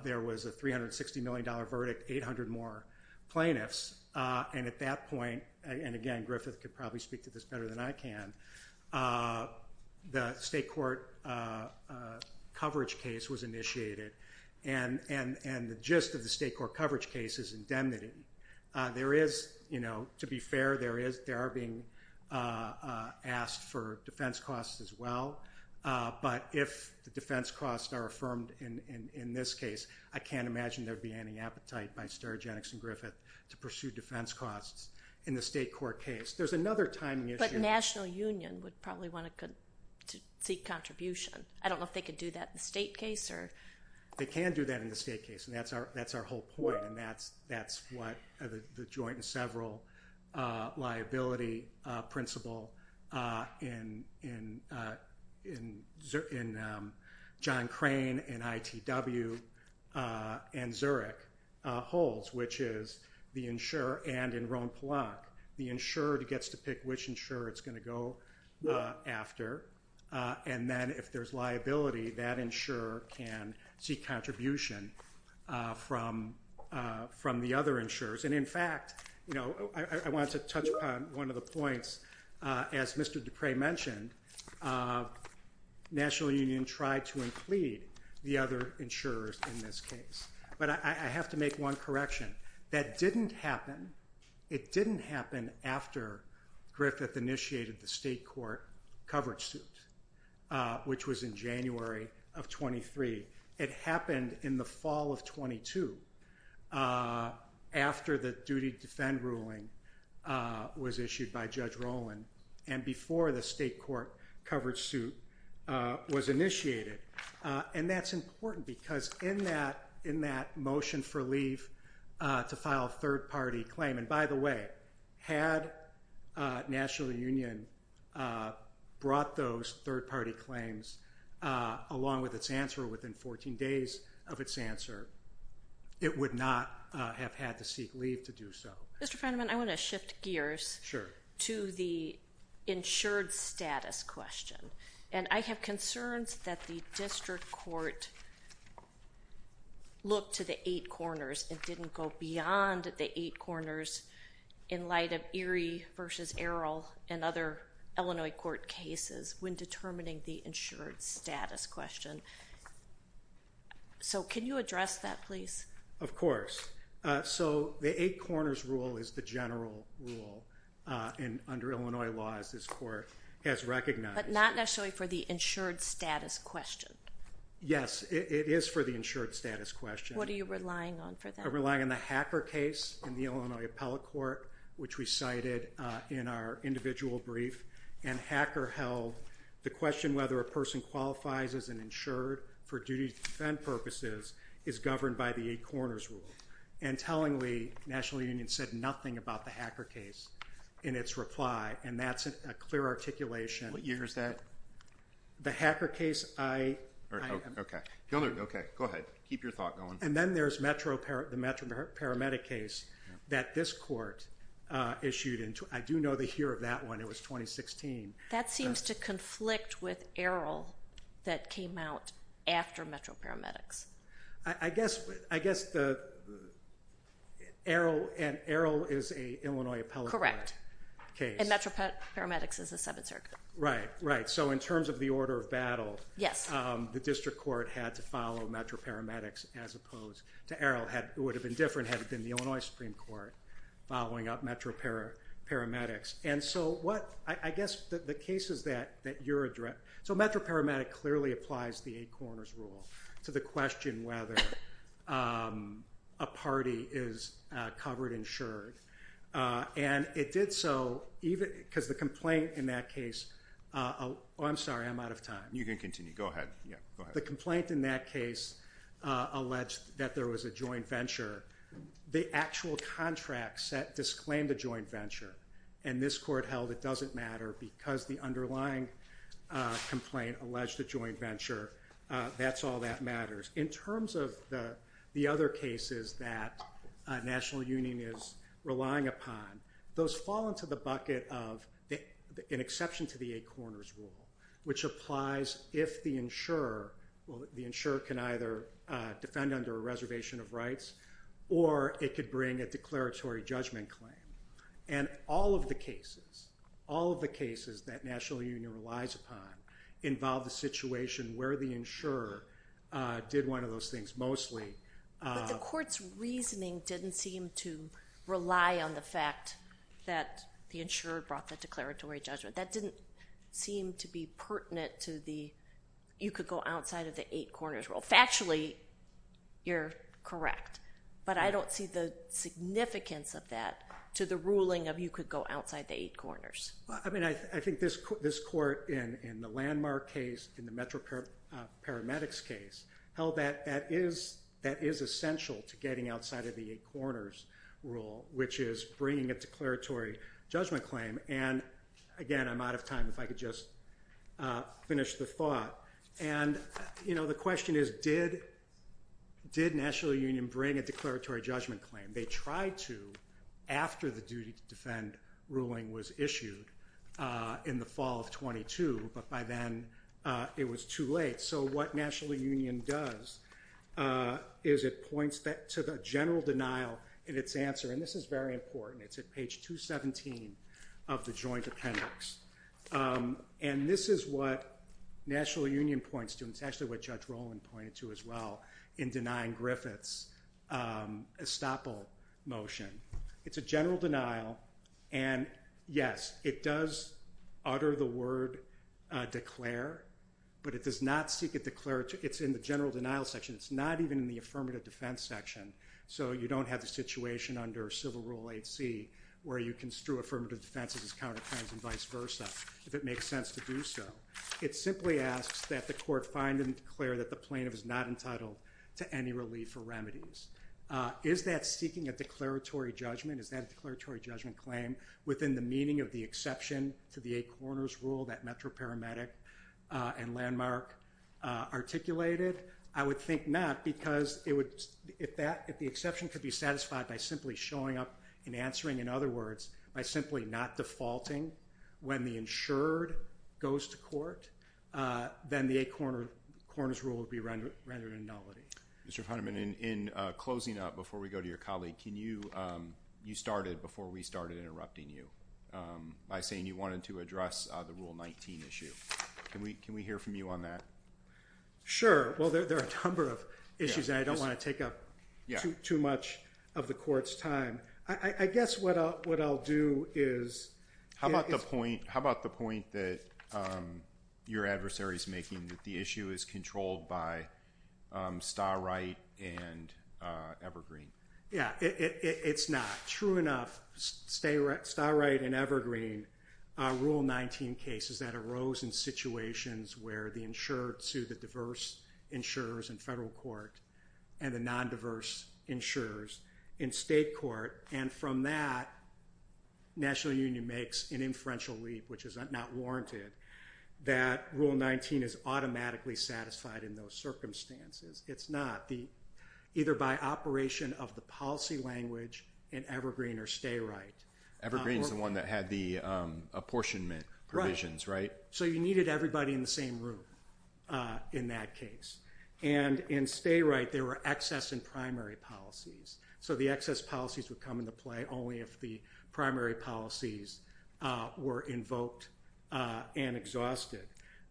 There was a $360 million verdict, 800 more plaintiffs, and at that point, and again Griffith could probably speak to this better than I can, the state court coverage case was initiated, and the gist of the state court coverage case is indemnity. There is, you know, to be fair, there are being asked for defense costs as well, but if the defense costs are affirmed in this case, I can't imagine there'd be any appetite by Sterigenics and Griffith to pursue defense costs in the state court case. There's another timing issue. The National Union would probably want to seek contribution. I don't know if they could do that in the state case or... They can do that in the state case, and that's our whole point, and that's what the joint and several liability principle in John Crane and ITW and Zurich holds, which is the insurer and in Roanoke, the insurer gets to pick which insurer it's going to go after, and then if there's liability, that insurer can seek contribution from the other insurers, and in fact, you know, I want to touch upon one of the points. As Mr. Dupre mentioned, National Union tried to include the other insurers in this case, but I have to make one correction. That didn't happen. It didn't happen after Griffith initiated the state court coverage suit, which was in January of 23. It happened in the fall of 22, after the duty to defend ruling was issued by Judge Rowland and before the state court coverage suit was initiated, and that's important because in that motion for leave to file a third-party claim, and by the way, had National Union brought those third-party claims along with its answer within 14 days of its answer, it would not have had to seek leave to do so. Mr. Feynman, I want to shift gears to the insured status question, and I have concerns that the district court looked to the eight corners and didn't go beyond the eight corners in light of Erie versus Errol and other Illinois court cases when determining the insured status question. So can you address that, please? Of course. So the eight corners rule is the general rule under Illinois law, as this court has recognized. But not necessarily for the insured status question. Yes, it is for the insured status question. What are you relying on for that? I'm relying on the Hacker case in the Illinois Appellate Court, which we cited in our individual brief, and Hacker held the question whether a person qualifies as an insured for duty to defend purposes is governed by the eight corners rule, and tellingly National Union said nothing about the Hacker case in its reply, and that's a clear articulation. What year is that? The Hacker case, I... Okay, go ahead, keep your thought going. And then there's the Metro Paramedic case that this court issued, and I do know the year of that one, it was 2016. That seems to conflict with Errol that came out after Metro Paramedics. I guess the Errol, and Errol is a Illinois Appellate Court case. Correct, and Metro Paramedics is a Seventh Circuit. Right, right. So in terms of the order of battle, the District Court had to follow Metro Paramedics as opposed to Errol. It would have been different had it been the Illinois Supreme Court following up Metro Paramedics. And so what, I guess the cases that that you're addressing, so Metro Paramedic clearly applies the eight corners rule to the question whether a party is covered, insured, and it did so even, because the complaint in that case, oh I'm sorry, I'm out of time. You can continue, go ahead. Yeah, the complaint in that case alleged that there was a joint venture. The actual contract set, disclaimed a joint venture, and this court held it doesn't matter because the underlying complaint alleged a joint venture. That's all that matters. In terms of the the other cases that National Union is relying upon, those fall into the bucket of an exception to the eight corners rule, which applies if the insurer, well the insurer can either defend under a reservation of rights, or it could bring a declaratory judgment claim. And all of the cases, all of the cases that National Union relies upon involve the situation where the insurer did one of those things, mostly. But the court's reasoning didn't seem to rely on the fact that the insurer brought the declaratory judgment. That didn't seem to be pertinent to the you could go outside of the eight corners rule. Factually, you're correct, but I don't see the significance of that to the ruling of you could go outside the eight corners. I mean, I think this court in the landmark case, in the Metro Paramedics case, held that that is that is essential to getting outside of the eight corners rule, which is bringing a declaratory judgment claim. And again, I'm out of time if I could just finish the thought. And you know, the question is did did National Union bring a declaratory judgment claim? They tried to after the duty to defend ruling was issued in the fall of 22. But by then, it was too late. So what National Union does is it points that to the general denial in its answer. And this is very important. It's at page 217 of the Joint Appendix. And this is what National Union points to. It's actually what Judge Roland pointed to as well in denying Griffith's estoppel motion. It's a general denial. And yes, it does utter the word declare, but it does not seek a declaratory. It's in the general denial section. It's not even in the affirmative defense section. So you don't have the situation under Civil Rule 8c where you construe affirmative defense as counterfeits and vice versa, if it makes sense to do so. It simply asks that the court find and declare that the plaintiff is not entitled to any relief or remedies. Is that seeking a declaratory judgment? Is that declaratory judgment claim within the meaning of the exception to the eight corners rule that Metro Paramedic and Landmark articulated? I would think not because it would, if that, if the exception could be satisfied by simply showing up and answering, in other words, by simply not defaulting when the insured goes to court, then the eight corners rule would be rendered innovative. Mr. Funderman, in closing up before we go to your colleague, can you, you started before we started interrupting you by saying you wanted to address the Rule 19 issue. Can we hear from you on that? Sure. Well, there are a number of issues that I don't want to take up too much of the court's time. I guess what I'll do is... How about the point, how about the point that your adversary is making that the issue is controlled by Starr Wright and Evergreen? Yeah, it's not. True enough, Starr Wright and Evergreen Rule 19 cases that arose in situations where the insured sued the diverse insurers in federal court and the non-diverse insurers in state court, and from that, National Union makes an inferential leave, which is not warranted, that Rule 19 is automatically satisfied in those circumstances. It's not. Either by operation of the policy language in Evergreen or Starr Wright. Evergreen is the one that had the apportionment provisions, right? So you needed everybody in the same room in that case. And in Starr Wright, there were excess in primary policies. So the excess policies would come into play only if the primary policies were invoked and exhausted.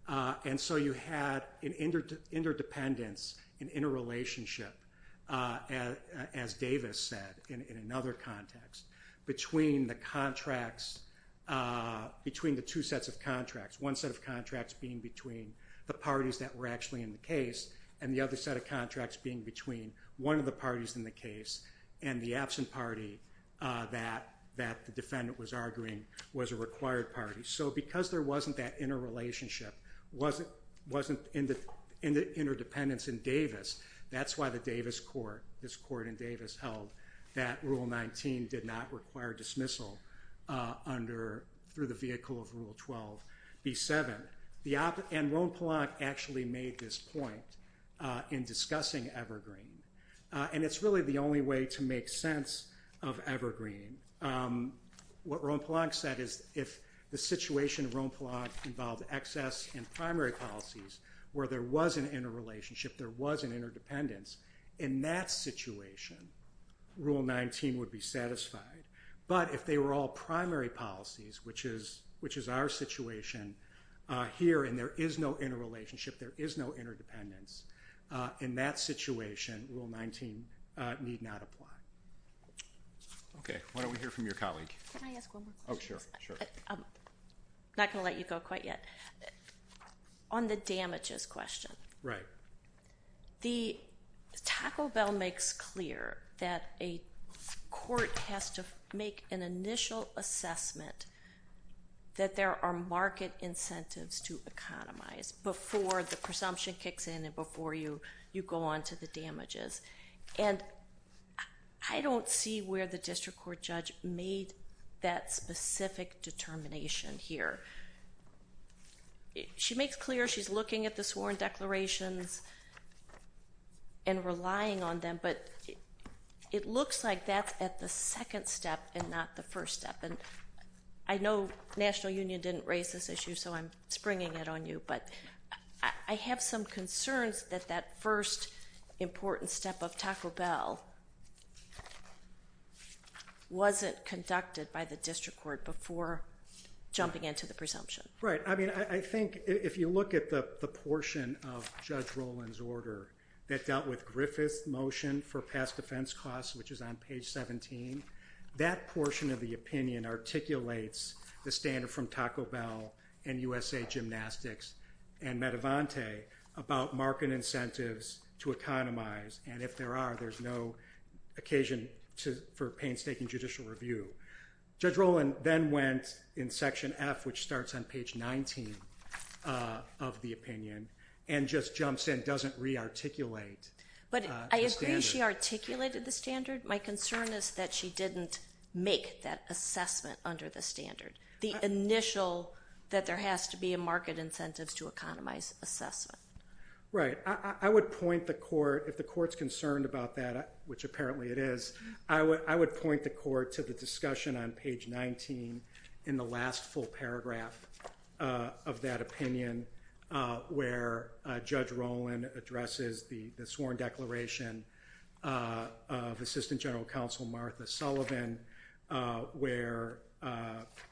And so you had an interdependence, an interrelationship, as Davis said, in another context, between the contracts, between the two sets of contracts. One set of contracts being between the parties that were actually in the case and the other set of contracts being between one of the parties in the case and the absent party that the defendant was arguing was a required party. So because there wasn't that interrelationship, wasn't interdependence in Davis, that's why the Davis court, this court in Davis held that Rule 19 did not require dismissal under, through the vehicle of Rule 12B7. And Roan Palonk actually made this point in discussing Evergreen. And it's really the only way to make sense of Evergreen. What Roan Palonk said is if the situation of Roan Palonk involved excess in primary policies where there was an interrelationship, there was an interdependence, in that situation, Rule 19 would be satisfied. But if they were all primary policies, which is our situation here and there is no interrelationship, there is no interdependence, in that situation, Rule 19 need not apply. Okay. Why don't we hear from your colleague? Can I ask one more question? Oh, sure. Sure. I'm not going to let you go quite yet. On the damages question. Right. The Taco Bell makes clear that a court has to make an initial assessment that there are market incentives to economize before the presumption kicks in and before you go on to the damages. And I don't see where the district court judge made that specific determination here. She makes clear she's looking at the sworn declarations and relying on them, but it looks like that's at the second step and not the first step. And I know National Union didn't raise this issue, so I'm springing it on you. But I have some concerns that that first important step of Taco Bell would be the presumption. Right. I mean, I think if you look at the portion of Judge Roland's order that dealt with Griffith's motion for past defense costs, which is on page 17, that portion of the opinion articulates the standard from Taco Bell and USA Gymnastics and Medivante about market incentives to economize. And if there are, there's no occasion for painstaking judicial review. Judge Roland then went in section F, which starts on page 19 of the opinion, and just jumps in, doesn't rearticulate. But I agree she articulated the standard. My concern is that she didn't make that assessment under the standard, the initial that there has to be a market incentive to economize assessment. Right. I would point the court, if the court's concerned about that, which apparently it is, I would point the court to the discussion on page 19 in the last full paragraph of that opinion, where Judge Roland addresses the sworn declaration of Assistant General Counsel Martha Sullivan, where,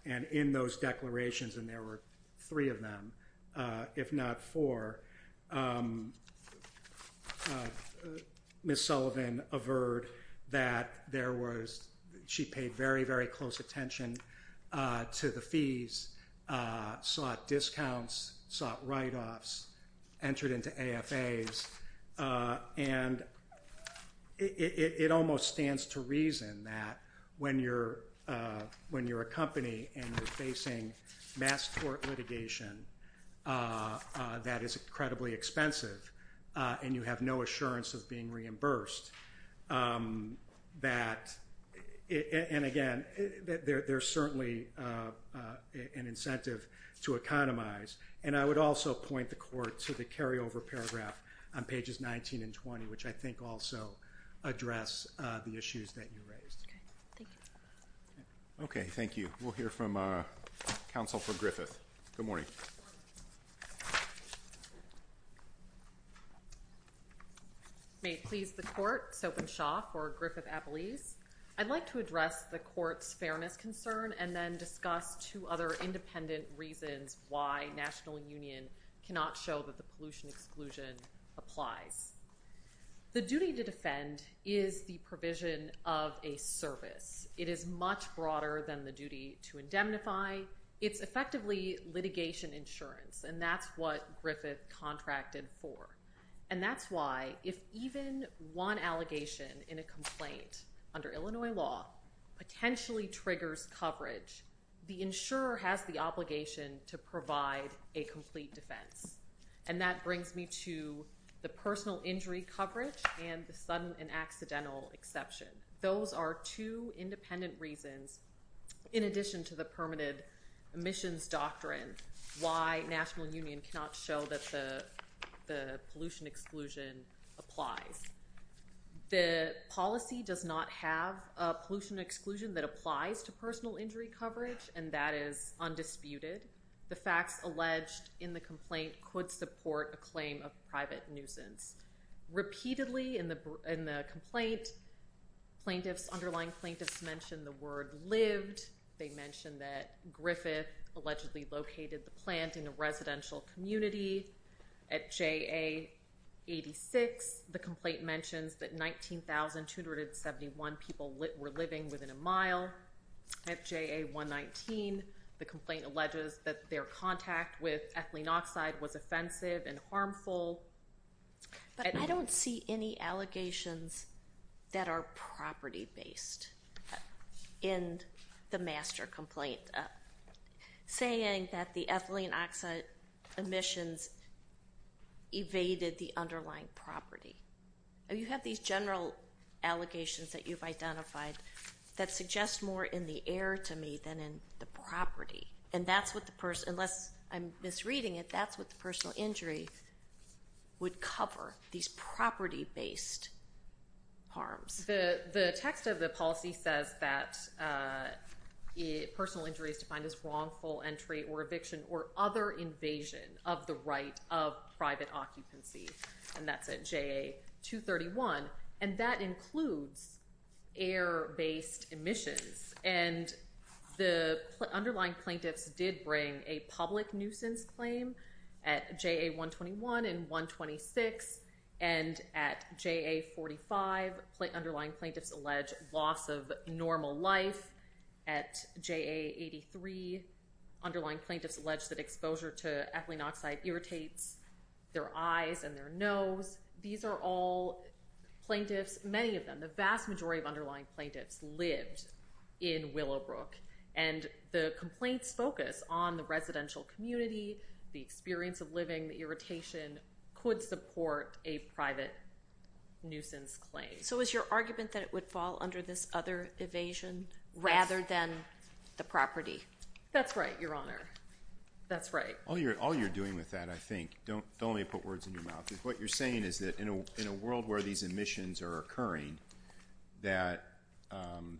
and in those declarations, and there were three of them, if not four, Ms. Sullivan averred that there was, she paid very, very close attention to the fees, sought discounts, sought write-offs, entered into AFAs, and it almost stands to reason that when you're a company and you're facing mass court litigation that is incredibly expensive, and you have no assurance of being reimbursed, that, and again, there's certainly an incentive to economize. And I would also point the court to the carryover paragraph on pages 19 and 20, which I think also address the issues that you raised. Okay. Thank you. Okay. Thank you. We'll hear from Counsel for Griffith. Good morning. Good morning. May it please the court, Soap and Shop, or Griffith Appellees. I'd like to address the court's fairness concern and then discuss two other independent reasons why National Union cannot show that the pollution exclusion applies. The duty to defend is the provision of a service. It is much broader than the duty to indemnify. It's effectively litigation insurance, and that's what Griffith contracted for. And that's why if even one allegation in a complaint under Illinois law potentially triggers coverage, the insurer has the obligation to provide a complete defense. And that brings me to the personal injury coverage and the sudden and accidental exception. Those are two independent reasons, in addition to the permitted emissions doctrine, why National Union cannot show that the pollution exclusion applies. The policy does not have a pollution exclusion that applies to personal injury coverage, and that is undisputed. The facts alleged in the complaint could support a claim of private nuisance. Repeatedly in the complaint, underlying plaintiffs mentioned the word lived. They mentioned that Griffith allegedly located the plant in a residential community. At JA 86, the complaint mentions that 19,271 people were living within a mile. At JA 119, the complaint alleges that their contact with ethylene oxide was offensive and harmful. But I don't see any allegations that are property-based in the master complaint saying that the ethylene oxide emissions evaded the underlying property. You have these general allegations that you've identified that suggest more in the air to me than in the property. And that's what the person, unless I'm misreading it, that's what the personal injury would cover, these property-based harms. The text of the policy says that personal injury is defined as wrongful entry or eviction or other invasion of the right of private occupancy. And that's at JA 231. And that includes air-based emissions. And the underlying plaintiffs did bring a public nuisance claim at JA 121 and 126. And at JA 45, underlying plaintiffs allege loss of normal life. At JA 83, underlying plaintiffs allege that exposure to ethylene oxide irritates their eyes and their nose. These are all plaintiffs, many of them, the vast majority of underlying plaintiffs lived in Willowbrook. And the complaints focus on the residential community, the experience of living, the irritation could support a private nuisance claim. So is your argument that it would fall under this other evasion rather than the property? That's right, Your Honor. That's right. All you're doing with that, I think, don't let me put words in your mouth, is what you're saying is that in a world where these emissions are occurring, that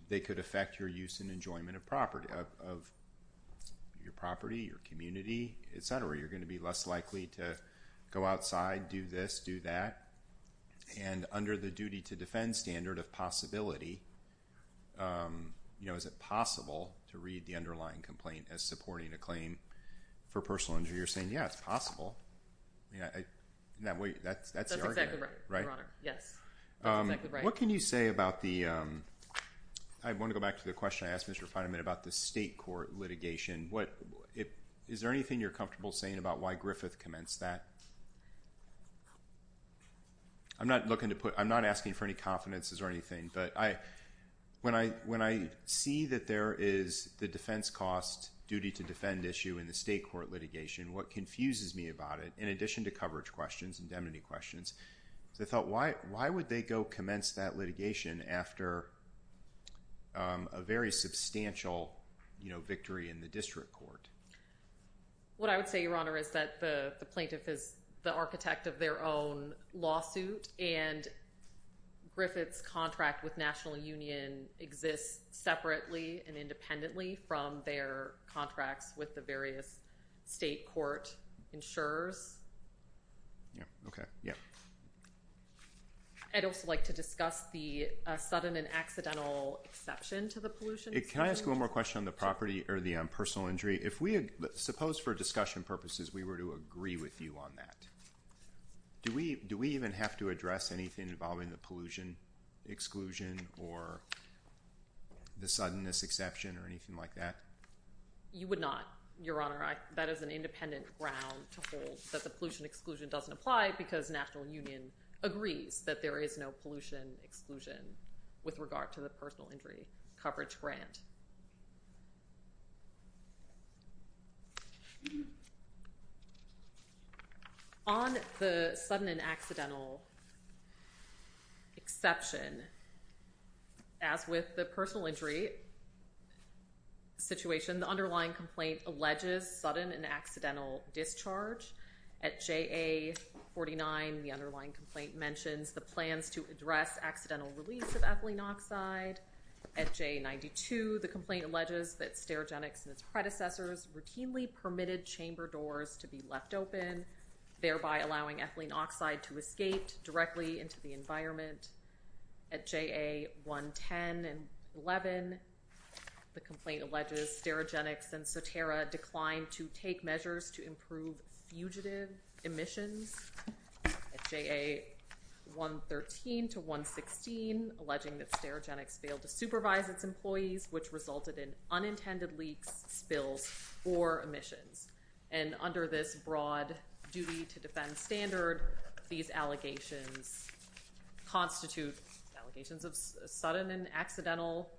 they could affect your use and enjoyment of property, of your property, your community, et cetera. You're going to be less likely to go outside, do this, do that. And under the duty to defend standard of possibility, is it possible to read the underlying complaint as supporting a claim for personal injury? You're saying, yeah, it's possible. That's the argument. That's exactly right, Your Honor. Yes. That's exactly right. What can you say about the, I want to go back to the question I asked Mr. Fineman about the state court litigation. Is there anything you're comfortable saying about why Griffith commenced that? I'm not looking to put, I'm not asking for any confidences or anything, but when I see that there is the defense cost duty to defend issue in the state court litigation, what confuses me about it, in addition to coverage questions and indemnity questions, I thought, why would they go commence that litigation after a very substantial victory in the district court? What I would say, Your Honor, is that the plaintiff is the architect of their own lawsuit, and Griffith's contract with National Union exists separately and independently from their contracts with the various state court insurers. Yeah. Okay. Yeah. I'd also like to discuss the sudden and accidental exception to the pollution. Can I ask one more question on the property or the personal injury? If we, suppose for discussion purposes, we were to agree with you on that. Do we even have to address anything involving the pollution exclusion or the suddenness exception or anything like that? You would not, Your Honor. That is an independent ground to hold that the pollution exclusion doesn't apply because National Union agrees that there is no pollution exclusion with regard to the personal injury coverage grant. Okay. On the sudden and accidental exception, as with the personal injury situation, the underlying complaint alleges sudden and accidental discharge. At JA 49, the underlying complaint mentions the plans to address accidental release of ethylene oxide. At JA 92, the complaint alleges that Sterigenics and its predecessors routinely permitted chamber doors to be left open, thereby allowing ethylene oxide to escape directly into the environment. At JA 110 and 11, the complaint alleges Sterigenics and Soterra declined to take measures to improve fugitive emissions. At JA 113 to 116, alleging that Sterigenics failed to supervise its employees, which resulted in unintended leaks, spills, or emissions. And under this broad duty to defend standard, these allegations constitute allegations of sudden and accidental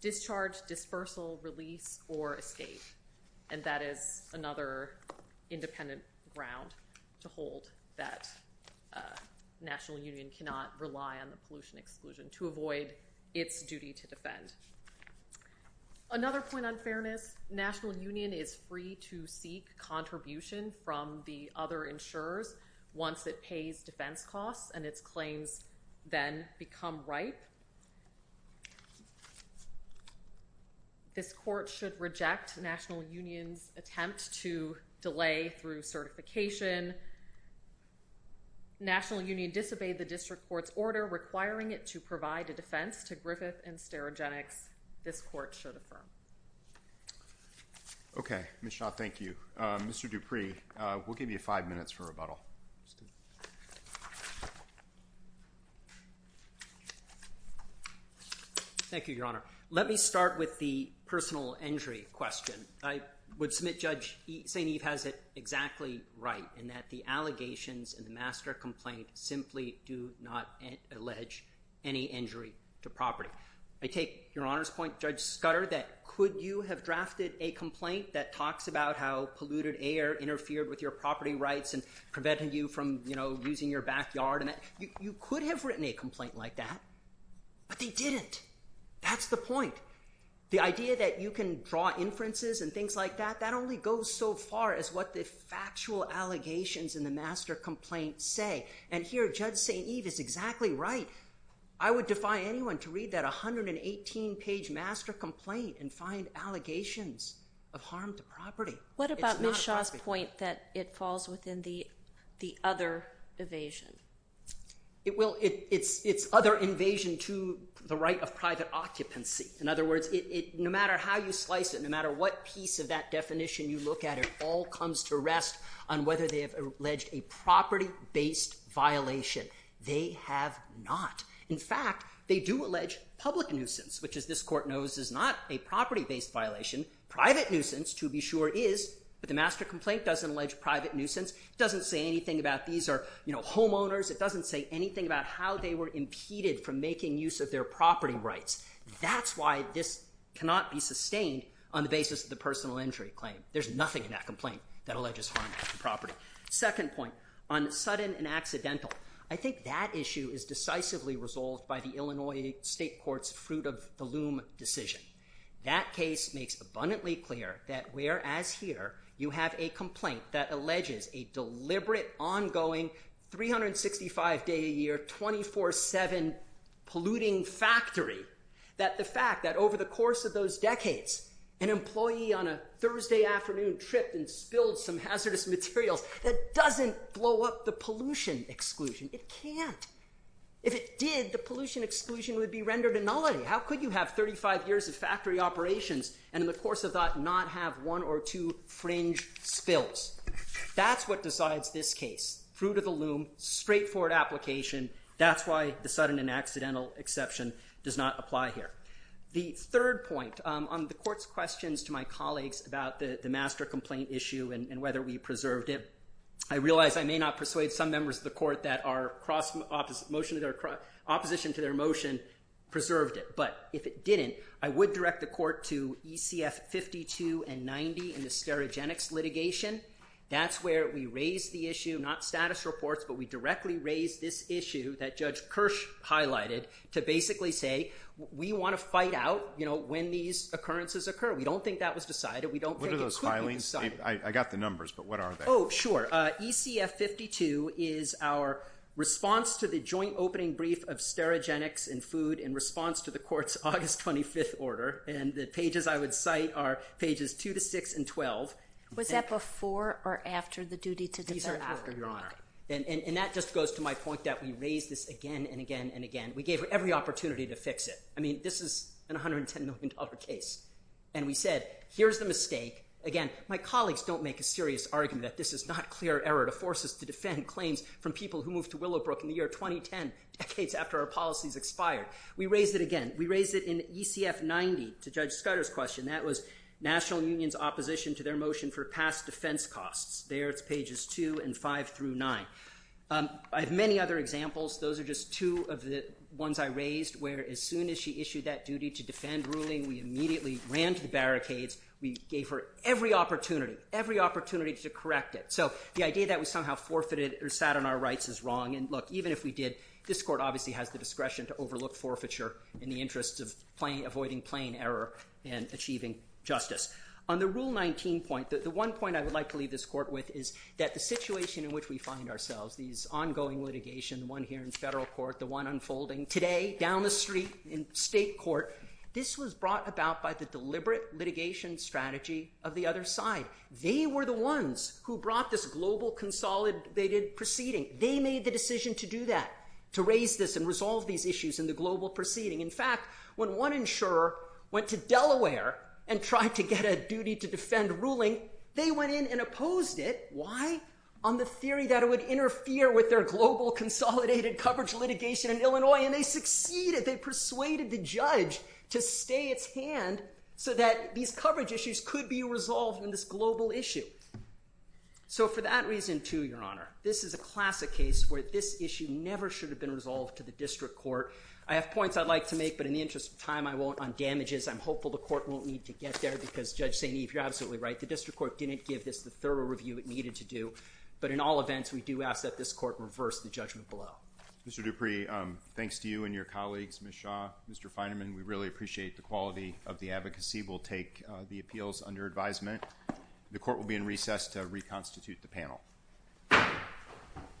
discharge, dispersal, release, or escape. And that is another independent ground to hold that National Union cannot rely on the pollution exclusion to its duty to defend. Another point on fairness, National Union is free to seek contribution from the other insurers once it pays defense costs and its claims then become ripe. This court should reject National Union's attempt to delay through certification. National Union disobeyed the district court's order requiring it to provide a defense to Griffith and Sterigenics. This court should affirm. Okay, Ms. Shaw, thank you. Mr. Dupree, we'll give you five minutes for rebuttal. Thank you, Your Honor. Let me start with the personal injury question. I would submit Judge St. Eve has it exactly right in that the allegations in the master complaint simply do not allege any injury to property. I take Your Honor's point, Judge Scudder, that could you have drafted a complaint that talks about how polluted air interfered with your property rights and prevented you from, you know, using your backyard? You could have written a complaint like that, but they didn't. That's the point. The idea that you can draw inferences and things like that, that only goes so far as what the factual allegations in the master complaint say. And here, Judge St. Eve is exactly right. I would defy anyone to read that 118-page master complaint and find allegations of harm to property. What about Ms. Shaw's point that it falls within the other evasion? It's other invasion to the right of private occupancy. In what piece of that definition you look at, it all comes to rest on whether they have alleged a property-based violation. They have not. In fact, they do allege public nuisance, which, as this Court knows, is not a property-based violation. Private nuisance, to be sure, is, but the master complaint doesn't allege private nuisance. It doesn't say anything about these are, you know, homeowners. It doesn't say anything about how they were impeded from making use of their property rights. That's why this cannot be sustained on the basis of the personal injury claim. There's nothing in that complaint that alleges harm to property. Second point, on sudden and accidental, I think that issue is decisively resolved by the Illinois State Court's fruit-of-the-loom decision. That case makes abundantly clear that, whereas here, you have a complaint that alleges a deliberate, ongoing, 365-day-a-year, 24-7 polluting factory, that the fact that over the course of those decades, an employee on a Thursday afternoon tripped and spilled some hazardous materials, that doesn't blow up the pollution exclusion. It can't. If it did, the pollution exclusion would be rendered a nullity. How could you have 35 years of factory operations and, in the course of that, not have one or two fringe spills? That's what decides this case. Fruit-of-the-loom, straightforward application. That's why the sudden and accidental exception does not apply here. The third point, on the Court's questions to my colleagues about the master complaint issue and whether we preserved it, I realize I may not persuade some members of the Court that our opposition to their motion preserved it. But if it didn't, I would direct the ECF 52 and 90 in the Sterigenics litigation. That's where we raised the issue, not status reports, but we directly raised this issue that Judge Kirsch highlighted to basically say, we want to fight out when these occurrences occur. We don't think that was decided. What are those filings? I got the numbers, but what are they? Oh, sure. ECF 52 is our response to the joint opening brief of Sterigenics and food in response to the Court's August 25th order. And the pages I would cite are pages 2 to 6 and 12. Was that before or after the duty to defend? These are after, Your Honor. And that just goes to my point that we raised this again and again and again. We gave every opportunity to fix it. I mean, this is an $110 million case. And we said, here's the mistake. Again, my colleagues don't make a serious argument that this is not clear error to force us to defend claims from people who moved to Willowbrook in the year 2010, decades after our policies expired. We raised it again. We raised it in ECF 90 to Judge Scudder's question. That was National Union's opposition to their motion for past defense costs. There it's pages 2 and 5 through 9. I have many other examples. Those are just two of the ones I raised, where as soon as she issued that duty to defend ruling, we immediately ran to the barricades. We gave her every opportunity, every opportunity to correct it. So the idea that we somehow forfeited or sat on our rights is wrong. And look, this court obviously has the discretion to overlook forfeiture in the interest of avoiding plain error and achieving justice. On the Rule 19 point, the one point I would like to leave this court with is that the situation in which we find ourselves, these ongoing litigation, the one here in federal court, the one unfolding today down the street in state court, this was brought about by the deliberate litigation strategy of the other side. They were the ones who brought this global consolidated proceeding. They made the decision to do that, to raise this and resolve these issues in the global proceeding. In fact, when one insurer went to Delaware and tried to get a duty to defend ruling, they went in and opposed it. Why? On the theory that it would interfere with their global consolidated coverage litigation in Illinois. And they succeeded. They persuaded the judge to stay its hand so that these coverage issues could be resolved in this global issue. So for that reason too, Your Honor, this is a classic case where this issue never should have been resolved to the district court. I have points I'd like to make, but in the interest of time, I won't on damages. I'm hopeful the court won't need to get there because Judge St. Eve, you're absolutely right. The district court didn't give this the thorough review it needed to do. But in all events, we do ask that this court reverse the judgment below. Mr. Dupree, thanks to you and your colleagues, Ms. Shaw, Mr. Feynman, we really appreciate the advocacy. We'll take the appeals under advisement. The court will be in recess to reconstitute the panel.